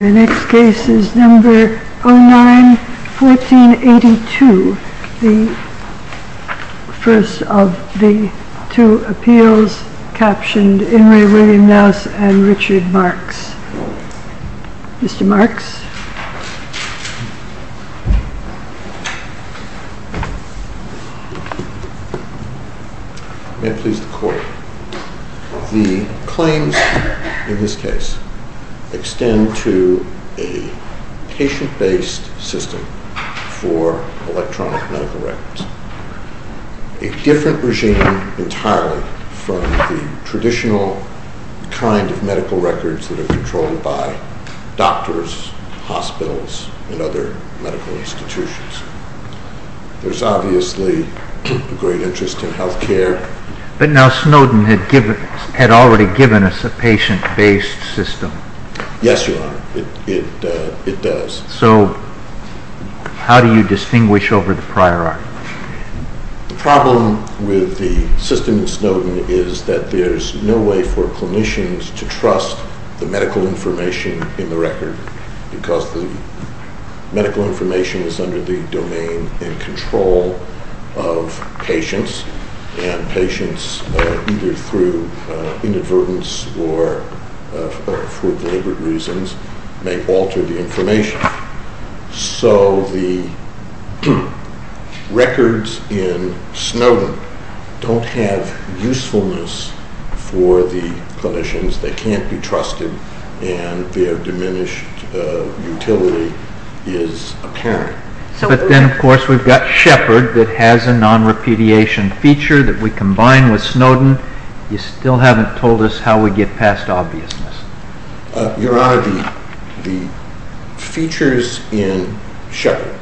The next case is No. 09-1482, the first of the two appeals captioned In Re. William Knaus and Richard Marks. Mr. Marks. May it please the Court. The claims in this case extend to a patient-based system for electronic medical records. It is a different regime entirely from the traditional kind of medical records that are controlled by doctors, hospitals and other medical institutions. There is obviously a great interest in health care. But now Snowden had already given us a patient-based system. Yes, Your Honor, it does. So how do you distinguish over the prior article? The problem with the system in Snowden is that there is no way for clinicians to trust the medical information in the record because the medical information is under the domain and control of patients. Patients, either through inadvertence or for deliberate reasons, may alter the information. So the records in Snowden don't have usefulness for the clinicians. They can't be trusted and their diminished utility is apparent. But then, of course, we've got Shepard that has a non-repudiation feature that we combine with Snowden. You still haven't told us how we get past obviousness. Your Honor, the features in Shepard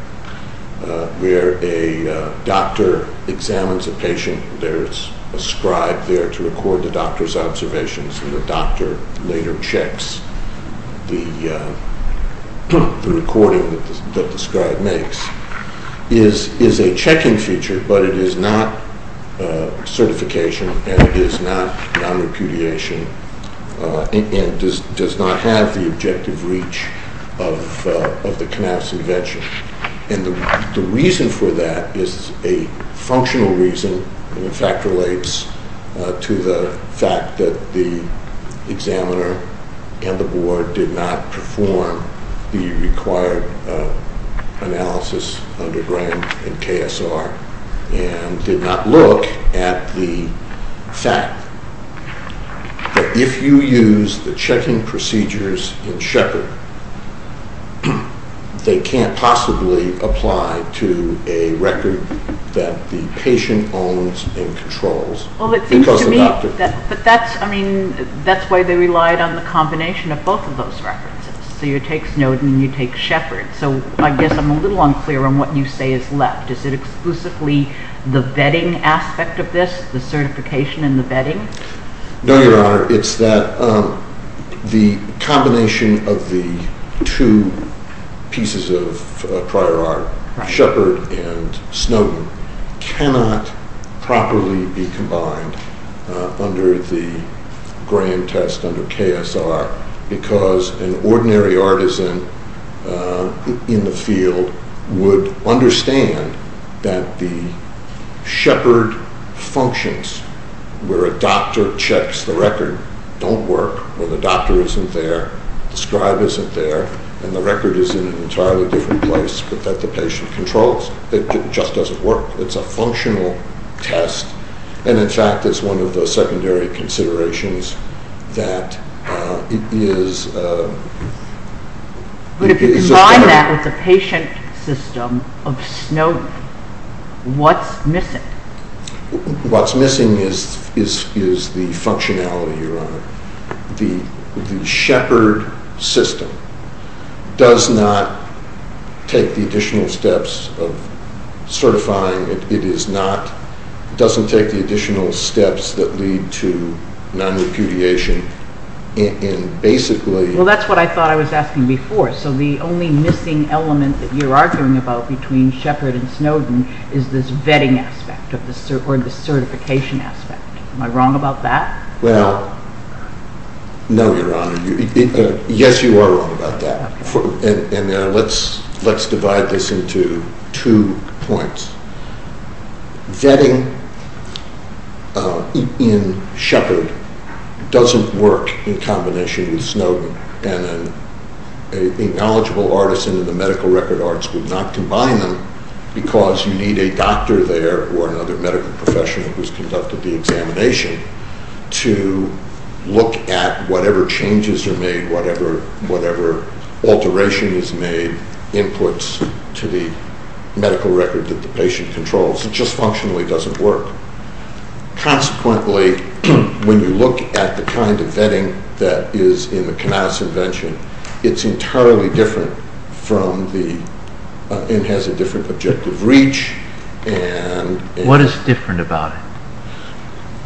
where a doctor examines a patient, there is a scribe there to record the doctor's observations, and the doctor later checks the recording that the scribe makes, is a checking feature, but it is not certification and it is not non-repudiation and does not have the objective reach of the Knapp's invention. The reason for that is a functional reason. It in fact relates to the fact that the examiner and the board did not perform the required analysis under Graham and KSR and did not look at the fact that if you use the checking procedures in Shepard, they can't possibly apply to a record that the patient owns and controls. That's why they relied on the combination of both of those records. So you take Snowden and you take Shepard. So I guess I'm a little unclear on what you say is left. Is it exclusively the vetting aspect of this, the certification and the vetting? No, Your Honor. It's that the combination of the two pieces of prior art, Shepard and Snowden, cannot properly be combined under the Graham test under KSR because an ordinary artisan in the field would understand that the Shepard functions where a doctor checks the record don't work when the doctor isn't there, the scribe isn't there, and the record is in an entirely different place but that the patient controls. It just doesn't work. It's a functional test and in fact it's one of the secondary considerations that it is... But if you combine that with the patient system of Snowden, what's missing? What's missing is the functionality, Your Honor. The Shepard system does not take the additional steps of certifying. It doesn't take the additional steps that lead to non-repudiation and basically... Well, that's what I thought I was asking before. So the only missing element that you're arguing about between Shepard and Snowden is this vetting aspect or the certification aspect. Am I wrong about that? Well, no, Your Honor. Yes, you are wrong about that. And let's divide this into two points. Vetting in Shepard doesn't work in combination with Snowden. And a knowledgeable artisan in the medical record arts would not combine them because you need a doctor there or another medical professional who's conducted the examination to look at whatever changes are made, whatever alteration is made, inputs to the medical record that the patient controls. It just functionally doesn't work. Consequently, when you look at the kind of vetting that is in the Knauss invention, it's entirely different from the... It has a different objective reach and... What is different about it?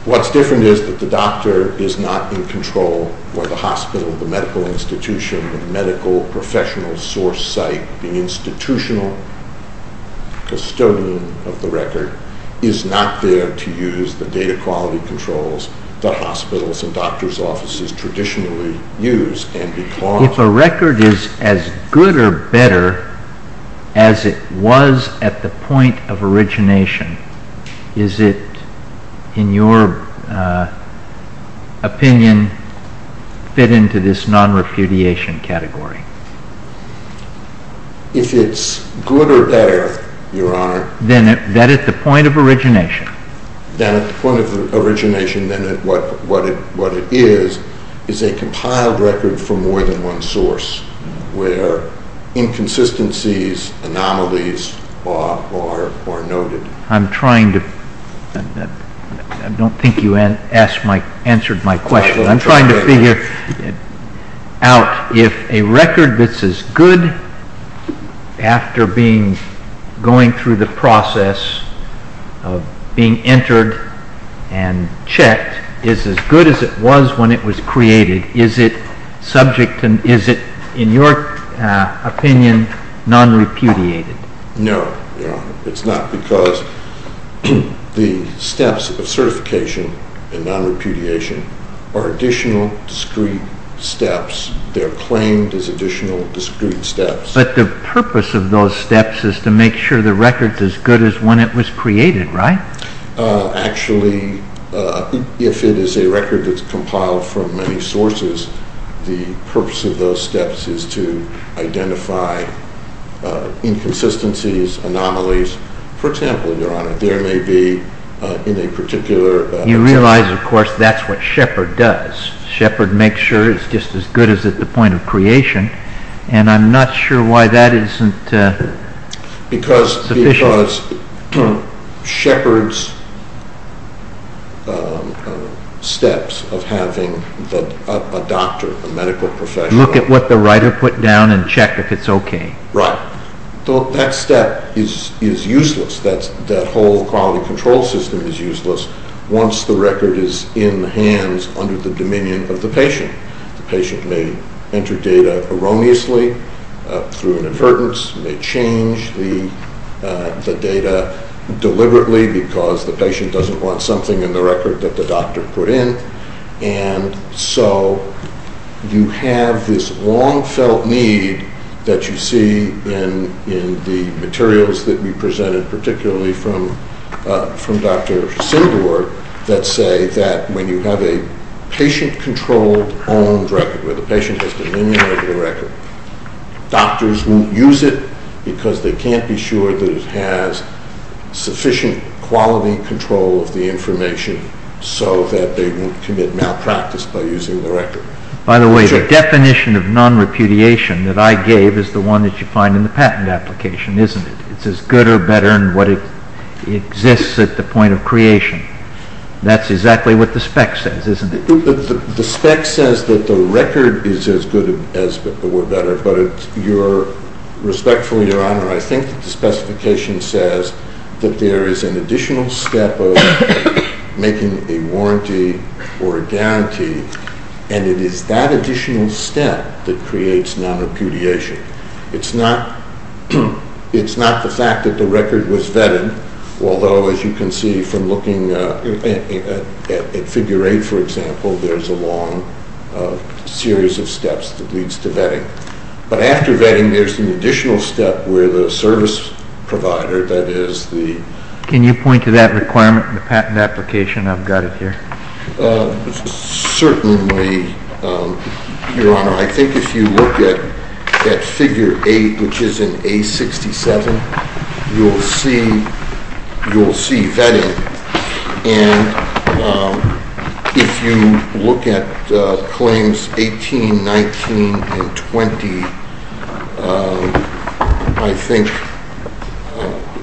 What's different is that the doctor is not in control where the hospital, the medical institution, the medical professional source site, the institutional custodian of the record is not there to use the data quality controls that hospitals and doctors' offices traditionally use and because... If a record is as good or better as it was at the point of origination, is it, in your opinion, fit into this non-refudiation category? If it's good or better, Your Honor... Then at the point of origination. Then at the point of origination, then what it is, is a compiled record from more than one source where inconsistencies, anomalies are noted. I'm trying to... I don't think you answered my question. I'm trying to figure out if a record that's as good after going through the process of being entered and checked is as good as it was when it was created. Is it subject to... Is it, in your opinion, non-refudiated? No, Your Honor. It's not because the steps of certification and non-refudiation are additional discrete steps. They're claimed as additional discrete steps. But the purpose of those steps is to make sure the record is as good as when it was created, right? Actually, if it is a record that's compiled from many sources, the purpose of those steps is to identify inconsistencies, anomalies. For example, Your Honor, there may be in a particular... You realize, of course, that's what Shepard does. Shepard makes sure it's just as good as at the point of creation, and I'm not sure why that isn't sufficient. It's because Shepard's steps of having a doctor, a medical professional... Look at what the writer put down and check if it's okay. Right. That step is useless. That whole quality control system is useless once the record is in hands under the dominion of the patient. The patient may enter data erroneously through an advertence, may change the data deliberately because the patient doesn't want something in the record that the doctor put in. And so you have this long-felt need that you see in the materials that we presented, particularly from Dr. Sindor, that say that when you have a patient-controlled owned record, where the patient has dominion over the record, doctors won't use it because they can't be sure that it has sufficient quality control of the information so that they won't commit malpractice by using the record. By the way, the definition of non-repudiation that I gave is the one that you find in the patent application, isn't it? It's as good or better than what exists at the point of creation. That's exactly what the spec says, isn't it? The spec says that the record is as good or better, but respectfully, Your Honor, I think the specification says that there is an additional step of making a warranty or a guarantee, and it is that additional step that creates non-repudiation. It's not the fact that the record was vetted, although as you can see from looking at figure 8, for example, there's a long series of steps that leads to vetting. But after vetting, there's an additional step where the service provider, that is the... Can you point to that requirement in the patent application? I've got it here. Certainly, Your Honor, I think if you look at figure 8, which is in A67, you'll see vetting. And if you look at claims 18, 19, and 20, I think,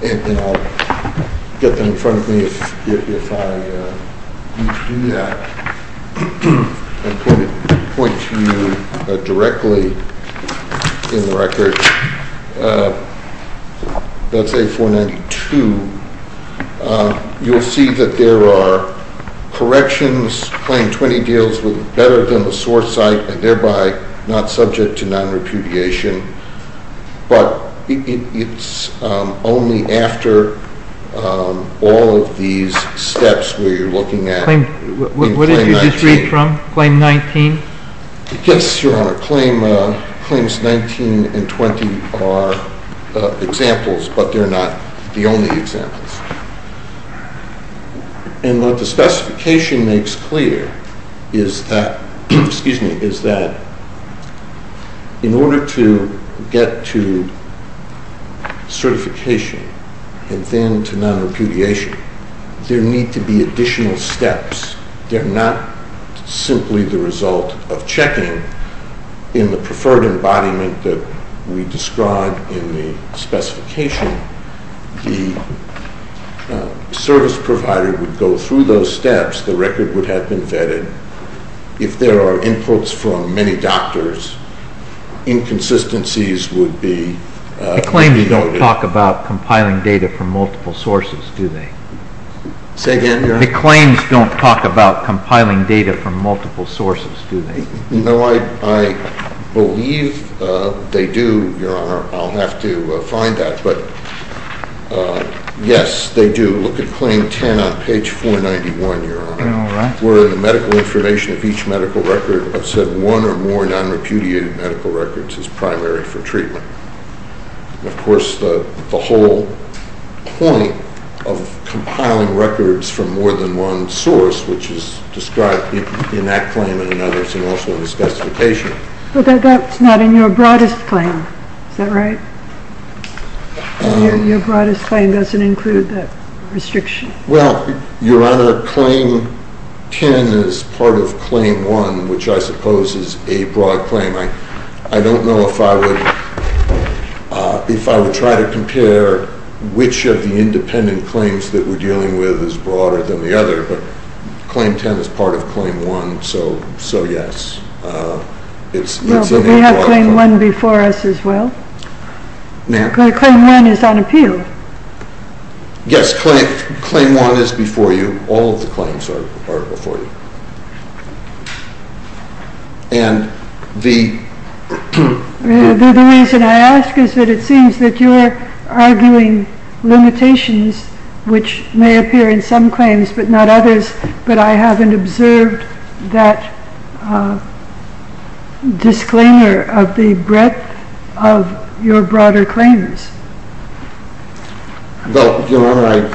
and I'll get them in front of me if I need to do that, and point to you directly in the record, that's A492. You'll see that there are corrections. Claim 20 deals with better than the source site and thereby not subject to non-repudiation. But it's only after all of these steps where you're looking at... What did you just read from? Claim 19? Yes, Your Honor. Claims 19 and 20 are examples, but they're not the only examples. And what the specification makes clear is that, in order to get to certification and then to non-repudiation, there need to be additional steps. They're not simply the result of checking in the preferred embodiment that we described in the specification. The service provider would go through those steps. The record would have been vetted. If there are inputs from many doctors, inconsistencies would be denoted. They don't talk about compiling data from multiple sources, do they? Say again, Your Honor? The claims don't talk about compiling data from multiple sources, do they? No, I believe they do, Your Honor. I'll have to find that. But, yes, they do. Look at Claim 10 on page 491, Your Honor, where the medical information of each medical record have said one or more non-repudiated medical records as primary for treatment. Of course, the whole point of compiling records from more than one source, which is described in that claim and in others and also in the specification. But that's not in your broadest claim. Is that right? Your broadest claim doesn't include that restriction. Well, Your Honor, Claim 10 is part of Claim 1, which I suppose is a broad claim. I don't know if I would try to compare which of the independent claims that we're dealing with is broader than the other, but Claim 10 is part of Claim 1, so yes. Well, but we have Claim 1 before us as well. Claim 1 is on appeal. Yes, Claim 1 is before you. All of the claims are before you. And the... The reason I ask is that it seems that you're arguing limitations, which may appear in some claims but not others, but I haven't observed that disclaimer of the breadth of your broader claims. Well, Your Honor,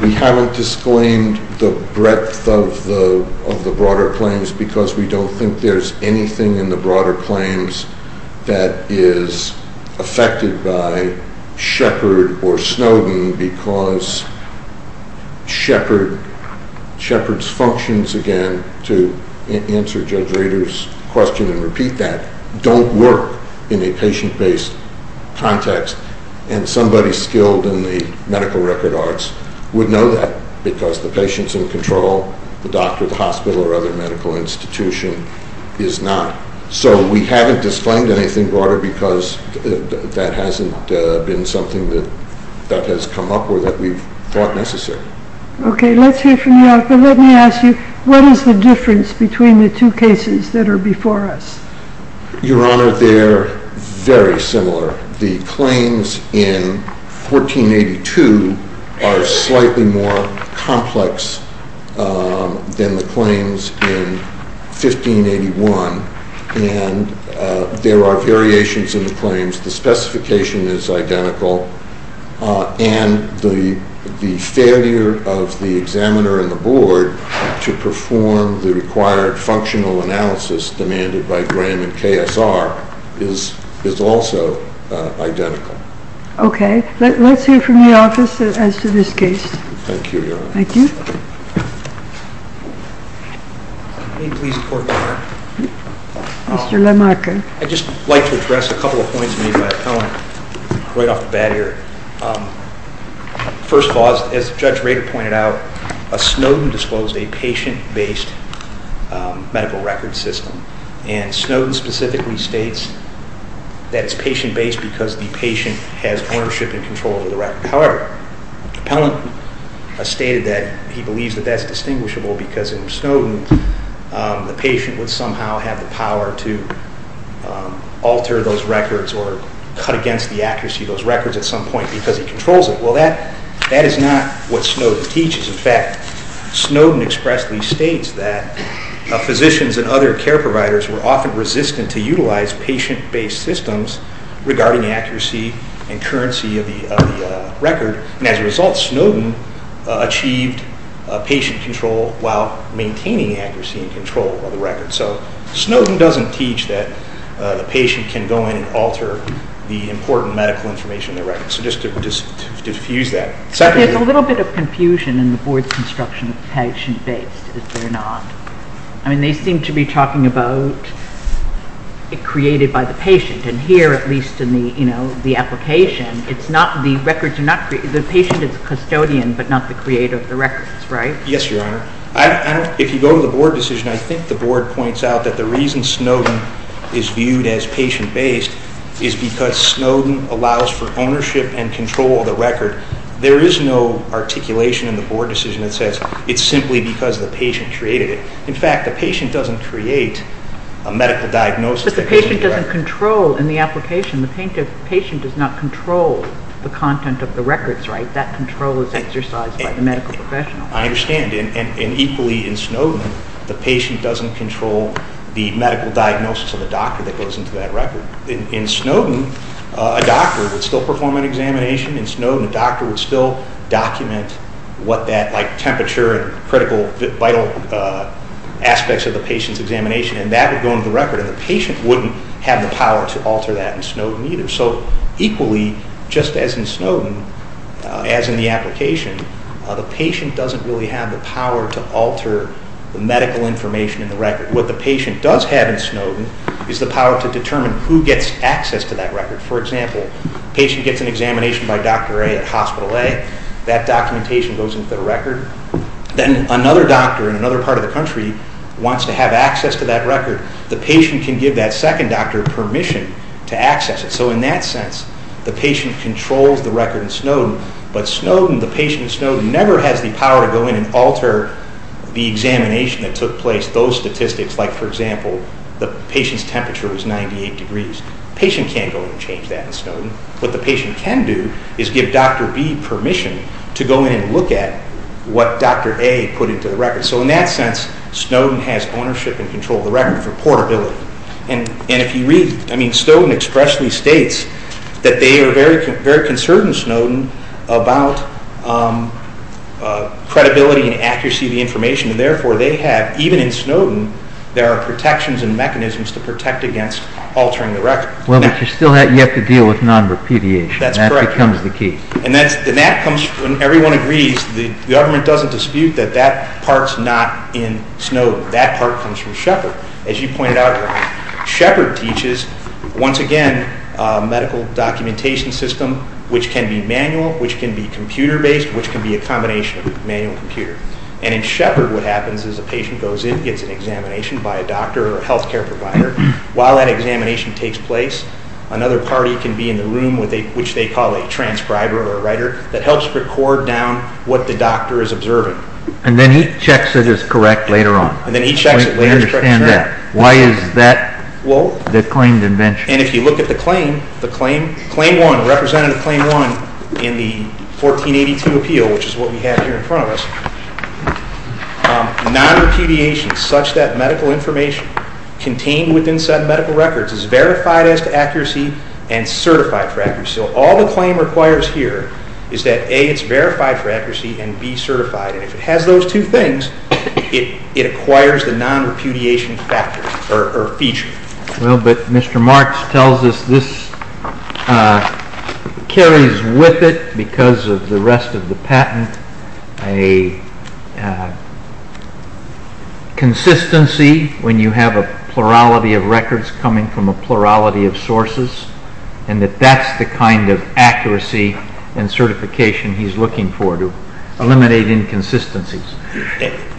we haven't disclaimed the breadth of the broader claims because we don't think there's anything in the broader claims that is affected by Shepard or Snowden because Shepard's functions, again, to answer Judge Rader's question and repeat that, don't work in a patient-based context, and somebody skilled in the medical record arts would know that because the patient's in control, the doctor, the hospital, or other medical institution is not. So we haven't disclaimed anything broader because that hasn't been something that has come up or that we've thought necessary. Okay, let's hear from you. Let me ask you, what is the difference between the two cases that are before us? Your Honor, they're very similar. The claims in 1482 are slightly more complex than the claims in 1581, and there are variations in the claims. The specification is identical, and the failure of the examiner and the board to perform the required functional analysis demanded by Graham and KSR is also identical. Okay. Let's hear from the office as to this case. Thank you, Your Honor. Thank you. May it please the Court of Appeal? Mr. LaMarca. I'd just like to address a couple of points made by Appellant right off the bat here. First of all, as Judge Rader pointed out, Snowden disclosed a patient-based medical record system, and Snowden specifically states that it's patient-based because the patient has ownership and control over the record. However, Appellant stated that he believes that that's distinguishable because in Snowden, the patient would somehow have the power to alter those records or cut against the accuracy of those records at some point because he controls it. Well, that is not what Snowden teaches. In fact, Snowden expressly states that physicians and other care providers were often resistant to utilize patient-based systems regarding accuracy and currency of the record, and as a result, Snowden achieved patient control while maintaining accuracy and control of the record. So Snowden doesn't teach that the patient can go in and alter the important medical information in the record. So just to diffuse that. There's a little bit of confusion in the Board's construction of patient-based, is there not? I mean, they seem to be talking about it created by the patient, and here, at least in the application, the patient is custodian but not the creator of the records, right? Yes, Your Honor. If you go to the Board decision, I think the Board points out that the reason Snowden is viewed as patient-based is because Snowden allows for ownership and control of the record. There is no articulation in the Board decision that says it's simply because the patient created it. In fact, the patient doesn't create a medical diagnosis. But the patient doesn't control in the application. The patient does not control the content of the records, right? That control is exercised by the medical professional. I understand, and equally in Snowden, the patient doesn't control the medical diagnosis of the doctor that goes into that record. In Snowden, a doctor would still perform an examination. In Snowden, a doctor would still document what that temperature and critical, vital aspects of the patient's examination, and that would go into the record, and the patient wouldn't have the power to alter that in Snowden either. So equally, just as in Snowden, as in the application, the patient doesn't really have the power to alter the medical information in the record. What the patient does have in Snowden is the power to determine who gets access to that record. For example, the patient gets an examination by Dr. A at Hospital A. That documentation goes into the record. Then another doctor in another part of the country wants to have access to that record. The patient can give that second doctor permission to access it. So in that sense, the patient controls the record in Snowden, but Snowden, the patient in Snowden, never has the power to go in and alter the examination that took place, those statistics. Like, for example, the patient's temperature was 98 degrees. The patient can't go in and change that in Snowden. What the patient can do is give Dr. B permission to go in and look at what Dr. A put into the record. So in that sense, Snowden has ownership and control of the record for portability. And if you read, I mean, Snowden expressly states that they are very concerned in Snowden about credibility and accuracy of the information, and therefore they have, even in Snowden, there are protections and mechanisms to protect against altering the record. Well, but you still have to deal with non-repudiation. That's correct. That becomes the key. And when everyone agrees, the government doesn't dispute that that part's not in Snowden. That part comes from Shepherd. As you pointed out, Shepherd teaches, once again, medical documentation system, which can be manual, which can be computer-based, which can be a combination of manual and computer. And in Shepherd, what happens is a patient goes in, gets an examination by a doctor or a health care provider. While that examination takes place, another party can be in the room, which they call a transcriber or a writer, that helps record down what the doctor is observing. And then he checks that it's correct later on. And then he checks it later. I understand that. Why is that the claimed invention? And if you look at the claim, the claim 1, Representative Claim 1 in the 1482 appeal, which is what we have here in front of us, non-repudiation, such that medical information contained within said medical records is verified as to accuracy and certified for accuracy. So all the claim requires here is that, A, it's verified for accuracy and B, certified. And if it has those two things, it acquires the non-repudiation factor or feature. Well, but Mr. Marks tells us this carries with it, because of the rest of the patent, a consistency when you have a plurality of records coming from a plurality of sources and that that's the kind of accuracy and certification he's looking for to eliminate inconsistencies.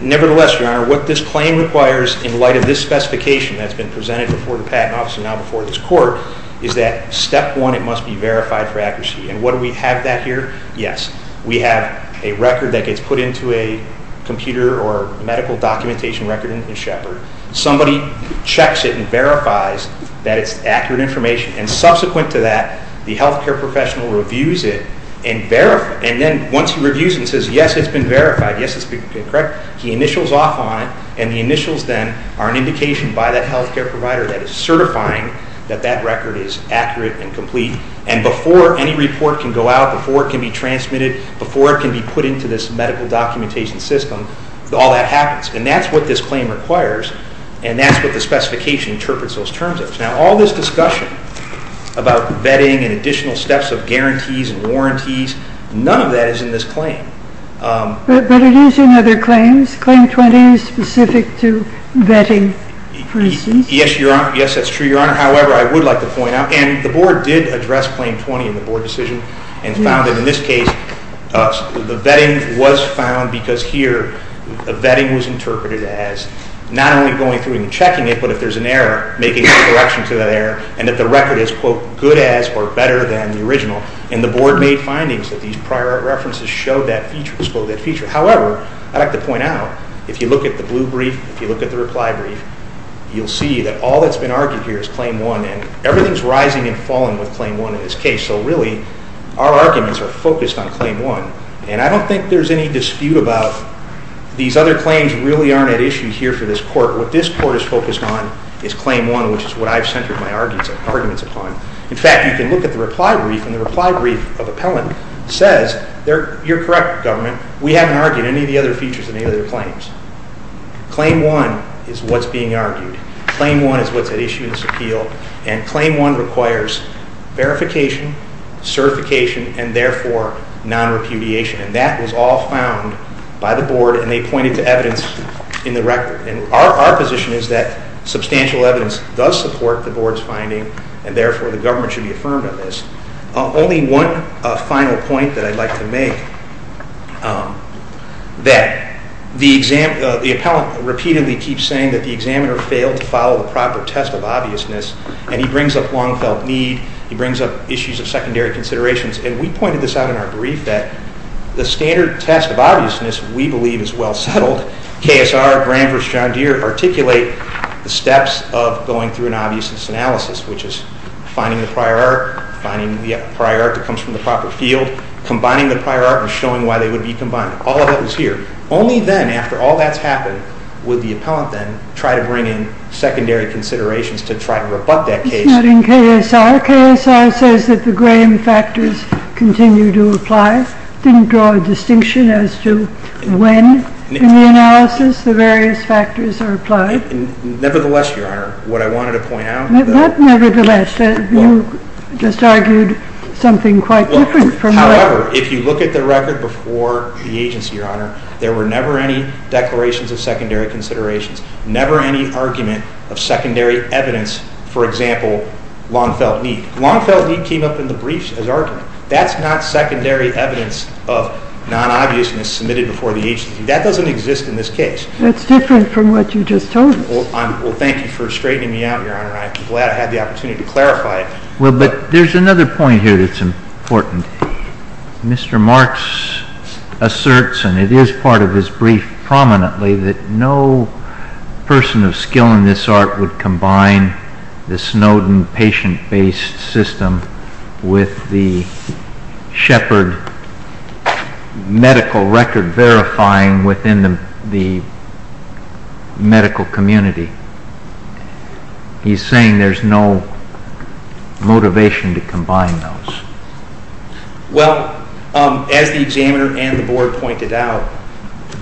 Nevertheless, Your Honor, what this claim requires in light of this specification that's been presented before the Patent Office and now before this Court is that step 1, it must be verified for accuracy. And what do we have that here? Yes, we have a record that gets put into a computer or medical documentation record in the Shepherd. Somebody checks it and verifies that it's accurate information. And subsequent to that, the health care professional reviews it and verifies it. And then once he reviews it and says, yes, it's been verified, yes, it's been corrected, he initials off on it, and the initials then are an indication by that health care provider that is certifying that that record is accurate and complete. And before any report can go out, before it can be transmitted, before it can be put into this medical documentation system, all that happens. And that's what this claim requires, and that's what the specification interprets those terms as. Now, all this discussion about vetting and additional steps of guarantees and warranties, none of that is in this claim. But it is in other claims. Claim 20 is specific to vetting, for instance. Yes, Your Honor. Yes, that's true, Your Honor. However, I would like to point out, and the Board did address Claim 20 in the Board decision and found that in this case, the vetting was found because here, the vetting was interpreted as not only going through and checking it, but if there's an error, making a correction to that error, and that the record is, quote, good as or better than the original. And the Board made findings that these prior references show that feature. However, I'd like to point out, if you look at the blue brief, if you look at the reply brief, you'll see that all that's been argued here is Claim 1, and everything's rising and falling with Claim 1 in this case. So really, our arguments are focused on Claim 1. And I don't think there's any dispute about these other claims really aren't at issue here for this court. What this court is focused on is Claim 1, which is what I've centered my arguments upon. In fact, you can look at the reply brief, and the reply brief of appellant says, you're correct, Government, we haven't argued any of the other features in any of their claims. Claim 1 is what's being argued. Claim 1 is what's at issue in this appeal. And Claim 1 requires verification, certification, and therefore non-repudiation. And that was all found by the Board, and they pointed to evidence in the record. And our position is that substantial evidence does support the Board's finding, and therefore the Government should be affirmed of this. Only one final point that I'd like to make, that the appellant repeatedly keeps saying that the examiner failed to follow the proper test of obviousness, and he brings up long-felt need. He brings up issues of secondary considerations. And we pointed this out in our brief that the standard test of obviousness, we believe, is well settled. KSR, Grant v. John Deere articulate the steps of going through an obviousness analysis, which is finding the prior art, finding the prior art that comes from the proper field, combining the prior art, and showing why they would be combined. All of that was here. Only then, after all that's happened, would the appellant then try to bring in secondary considerations to try to rebut that case. It's not in KSR. KSR says that the Graham factors continue to apply. It didn't draw a distinction as to when in the analysis the various factors are applied. Nevertheless, Your Honor, what I wanted to point out. Not nevertheless. You just argued something quite different. However, if you look at the record before the agency, Your Honor, there were never any declarations of secondary considerations, never any argument of secondary evidence, for example, long-felt need. Long-felt need came up in the briefs as argument. That's not secondary evidence of non-obviousness submitted before the agency. That doesn't exist in this case. That's different from what you just told us. Well, thank you for straightening me out, Your Honor. I'm glad I had the opportunity to clarify it. Well, but there's another point here that's important. Mr. Marks asserts, and it is part of his brief prominently, that no person of skill in this art would combine the Snowden patient-based system with the Shepard medical record verifying within the medical community. He's saying there's no motivation to combine those. Well, as the examiner and the Board pointed out,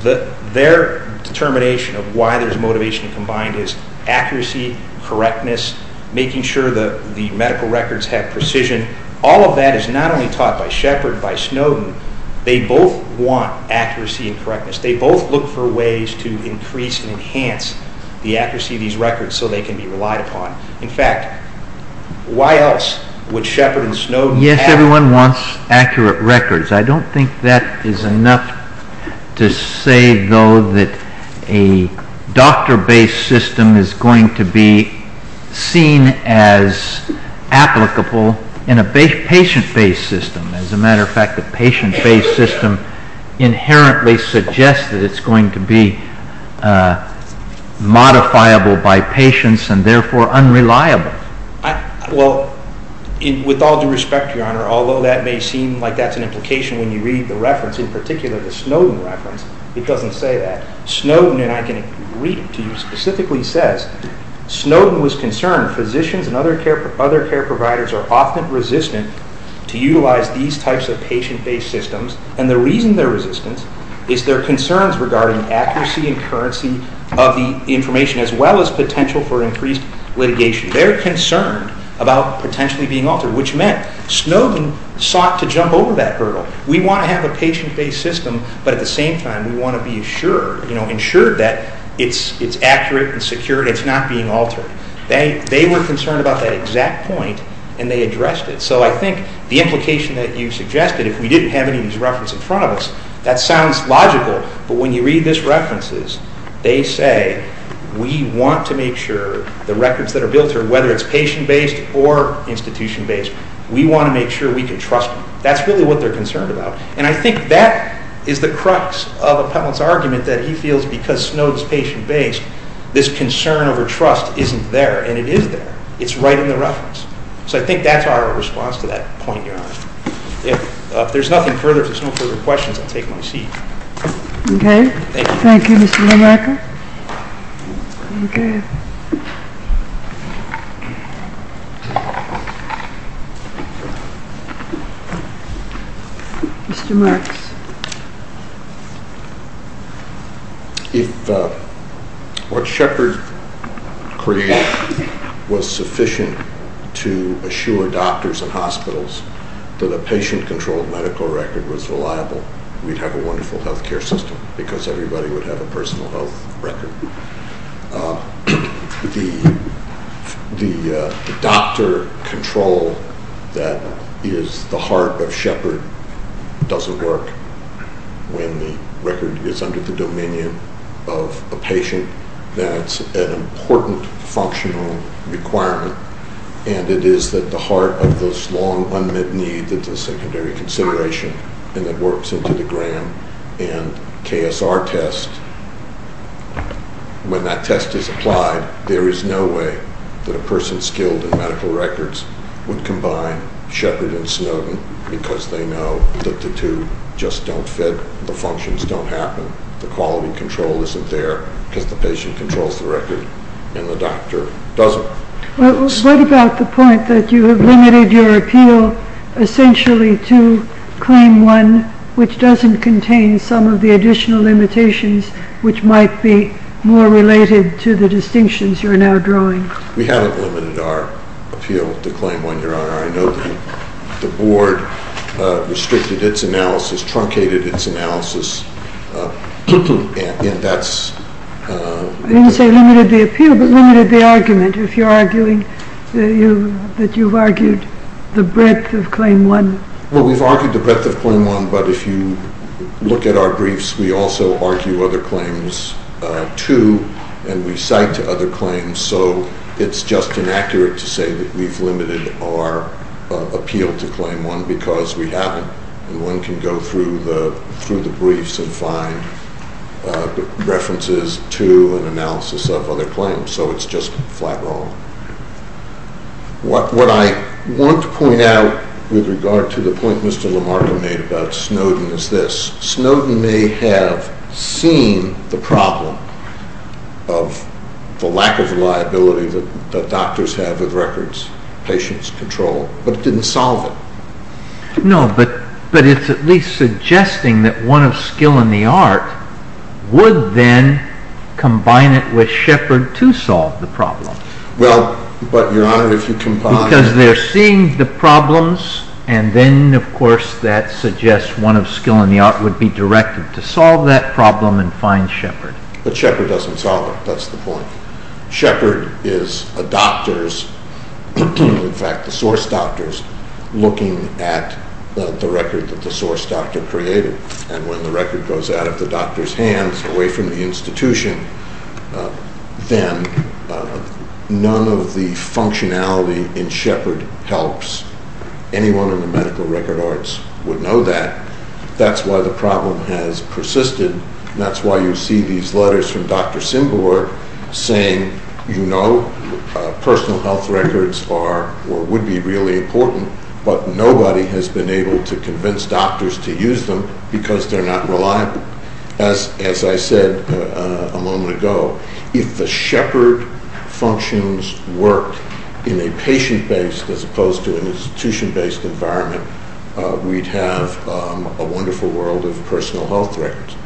their determination of why there's motivation to combine is accuracy, correctness, making sure the medical records have precision. All of that is not only taught by Shepard, by Snowden. They both want accuracy and correctness. They both look for ways to increase and enhance the accuracy of these records so they can be relied upon. In fact, why else would Shepard and Snowden have— Yes, everyone wants accurate records. I don't think that is enough to say, though, that a doctor-based system is going to be seen as applicable in a patient-based system. As a matter of fact, the patient-based system inherently suggests that it's going to be modifiable by patients and therefore unreliable. Well, with all due respect, Your Honor, although that may seem like that's an implication when you read the reference, in particular the Snowden reference, it doesn't say that. Snowden, and I can agree to you, specifically says, Snowden was concerned physicians and other care providers are often resistant to utilize these types of patient-based systems, and the reason they're resistant is their concerns regarding accuracy and currency of the information as well as potential for increased litigation. They're concerned about potentially being altered, which meant Snowden sought to jump over that hurdle. We want to have a patient-based system, but at the same time, we want to be assured that it's accurate and secure and it's not being altered. They were concerned about that exact point, and they addressed it. So I think the implication that you suggested, if we didn't have any of these references in front of us, that sounds logical, but when you read these references, they say, we want to make sure the records that are built here, whether it's patient-based or institution-based, we want to make sure we can trust them. That's really what they're concerned about, and I think that is the crux of Appellant's argument, that he feels because Snowden's patient-based, this concern over trust isn't there, and it is there. It's right in the reference. So I think that's our response to that point, Your Honor. If there's nothing further, if there's no further questions, I'll take my seat. Okay. Thank you, Mr. DeMarco. Mr. Marks. If what Shepard created was sufficient to assure doctors and hospitals that a patient-controlled medical record was reliable, we'd have a wonderful health care system because everybody would have a personal health record. The doctor control that is the heart of Shepard doesn't work when the record is under the dominion of a patient. That's an important functional requirement, and it is at the heart of this long unmet need that the secondary consideration, and it works into the Graham and KSR test. When that test is applied, there is no way that a person skilled in medical records would combine Shepard and Snowden because they know that the two just don't fit. The functions don't happen. The quality control isn't there because the patient controls the record and the doctor doesn't. What about the point that you have limited your appeal essentially to claim one which doesn't contain some of the additional limitations which might be more related to the distinctions you're now drawing? We haven't limited our appeal to claim one, Your Honor. I know that the Board restricted its analysis, truncated its analysis, and that's... I didn't say limited the appeal, but limited the argument. If you're arguing that you've argued the breadth of claim one... Well, we've argued the breadth of claim one, but if you look at our briefs, we also argue other claims, too, and we cite other claims, so it's just inaccurate to say that we've limited our appeal to claim one because we haven't, and one can go through the briefs and find references to an analysis of other claims, so it's just flat wrong. What I want to point out with regard to the point Mr. Lamarck made about Snowden is this. Snowden may have seen the problem of the lack of reliability that doctors have with records, patients, control, but it didn't solve it. No, but it's at least suggesting that one of skill in the art would then combine it with Shepard to solve the problem. Well, but, Your Honor, if you combine... Because they're seeing the problems, and then, of course, that suggests one of skill in the art would be directed to solve that problem and find Shepard. But Shepard doesn't solve it. That's the point. Shepard is a doctor's, in fact, a source doctor's, looking at the record that the source doctor created, and when the record goes out of the doctor's hands, away from the institution, then none of the functionality in Shepard helps. Anyone in the medical record arts would know that. That's why the problem has persisted, and that's why you see these letters from Dr. Symbourg saying, you know, personal health records are or would be really important, but nobody has been able to convince doctors to use them because they're not reliable. As I said a moment ago, if the Shepard functions worked in a patient-based as opposed to an institution-based environment, we'd have a wonderful world of personal health records.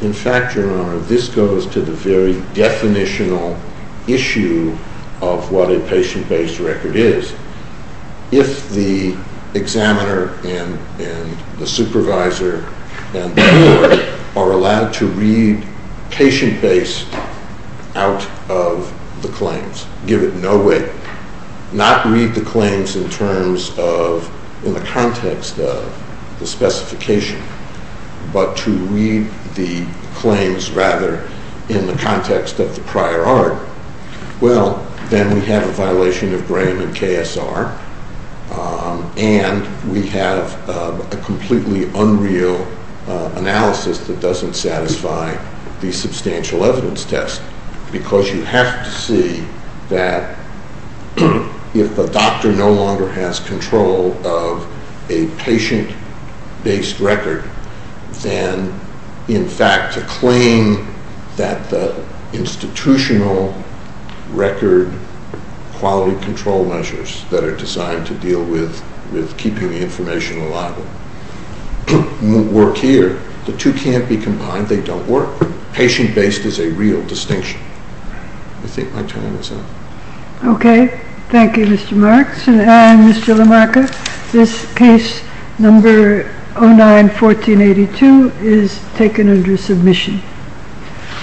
In fact, Your Honor, this goes to the very definitional issue of what a patient-based record is. If the examiner and the supervisor and the juror are allowed to read patient-based out of the claims, give it no weight, not read the claims in terms of, in the context of the specification, but to read the claims rather in the context of the prior art, well, then we have a violation of Graham and KSR, and we have a completely unreal analysis that doesn't satisfy the substantial evidence test because you have to see that if the doctor no longer has control of a patient-based record, then, in fact, to claim that the institutional record quality control measures that are designed to deal with keeping the information reliable won't work here. The two can't be combined. They don't work. Patient-based is a real distinction. I think my time is up. Okay. Thank you, Mr. Marks. And, Mr. LaMarca, this case, number 09-1482, is taken under submission.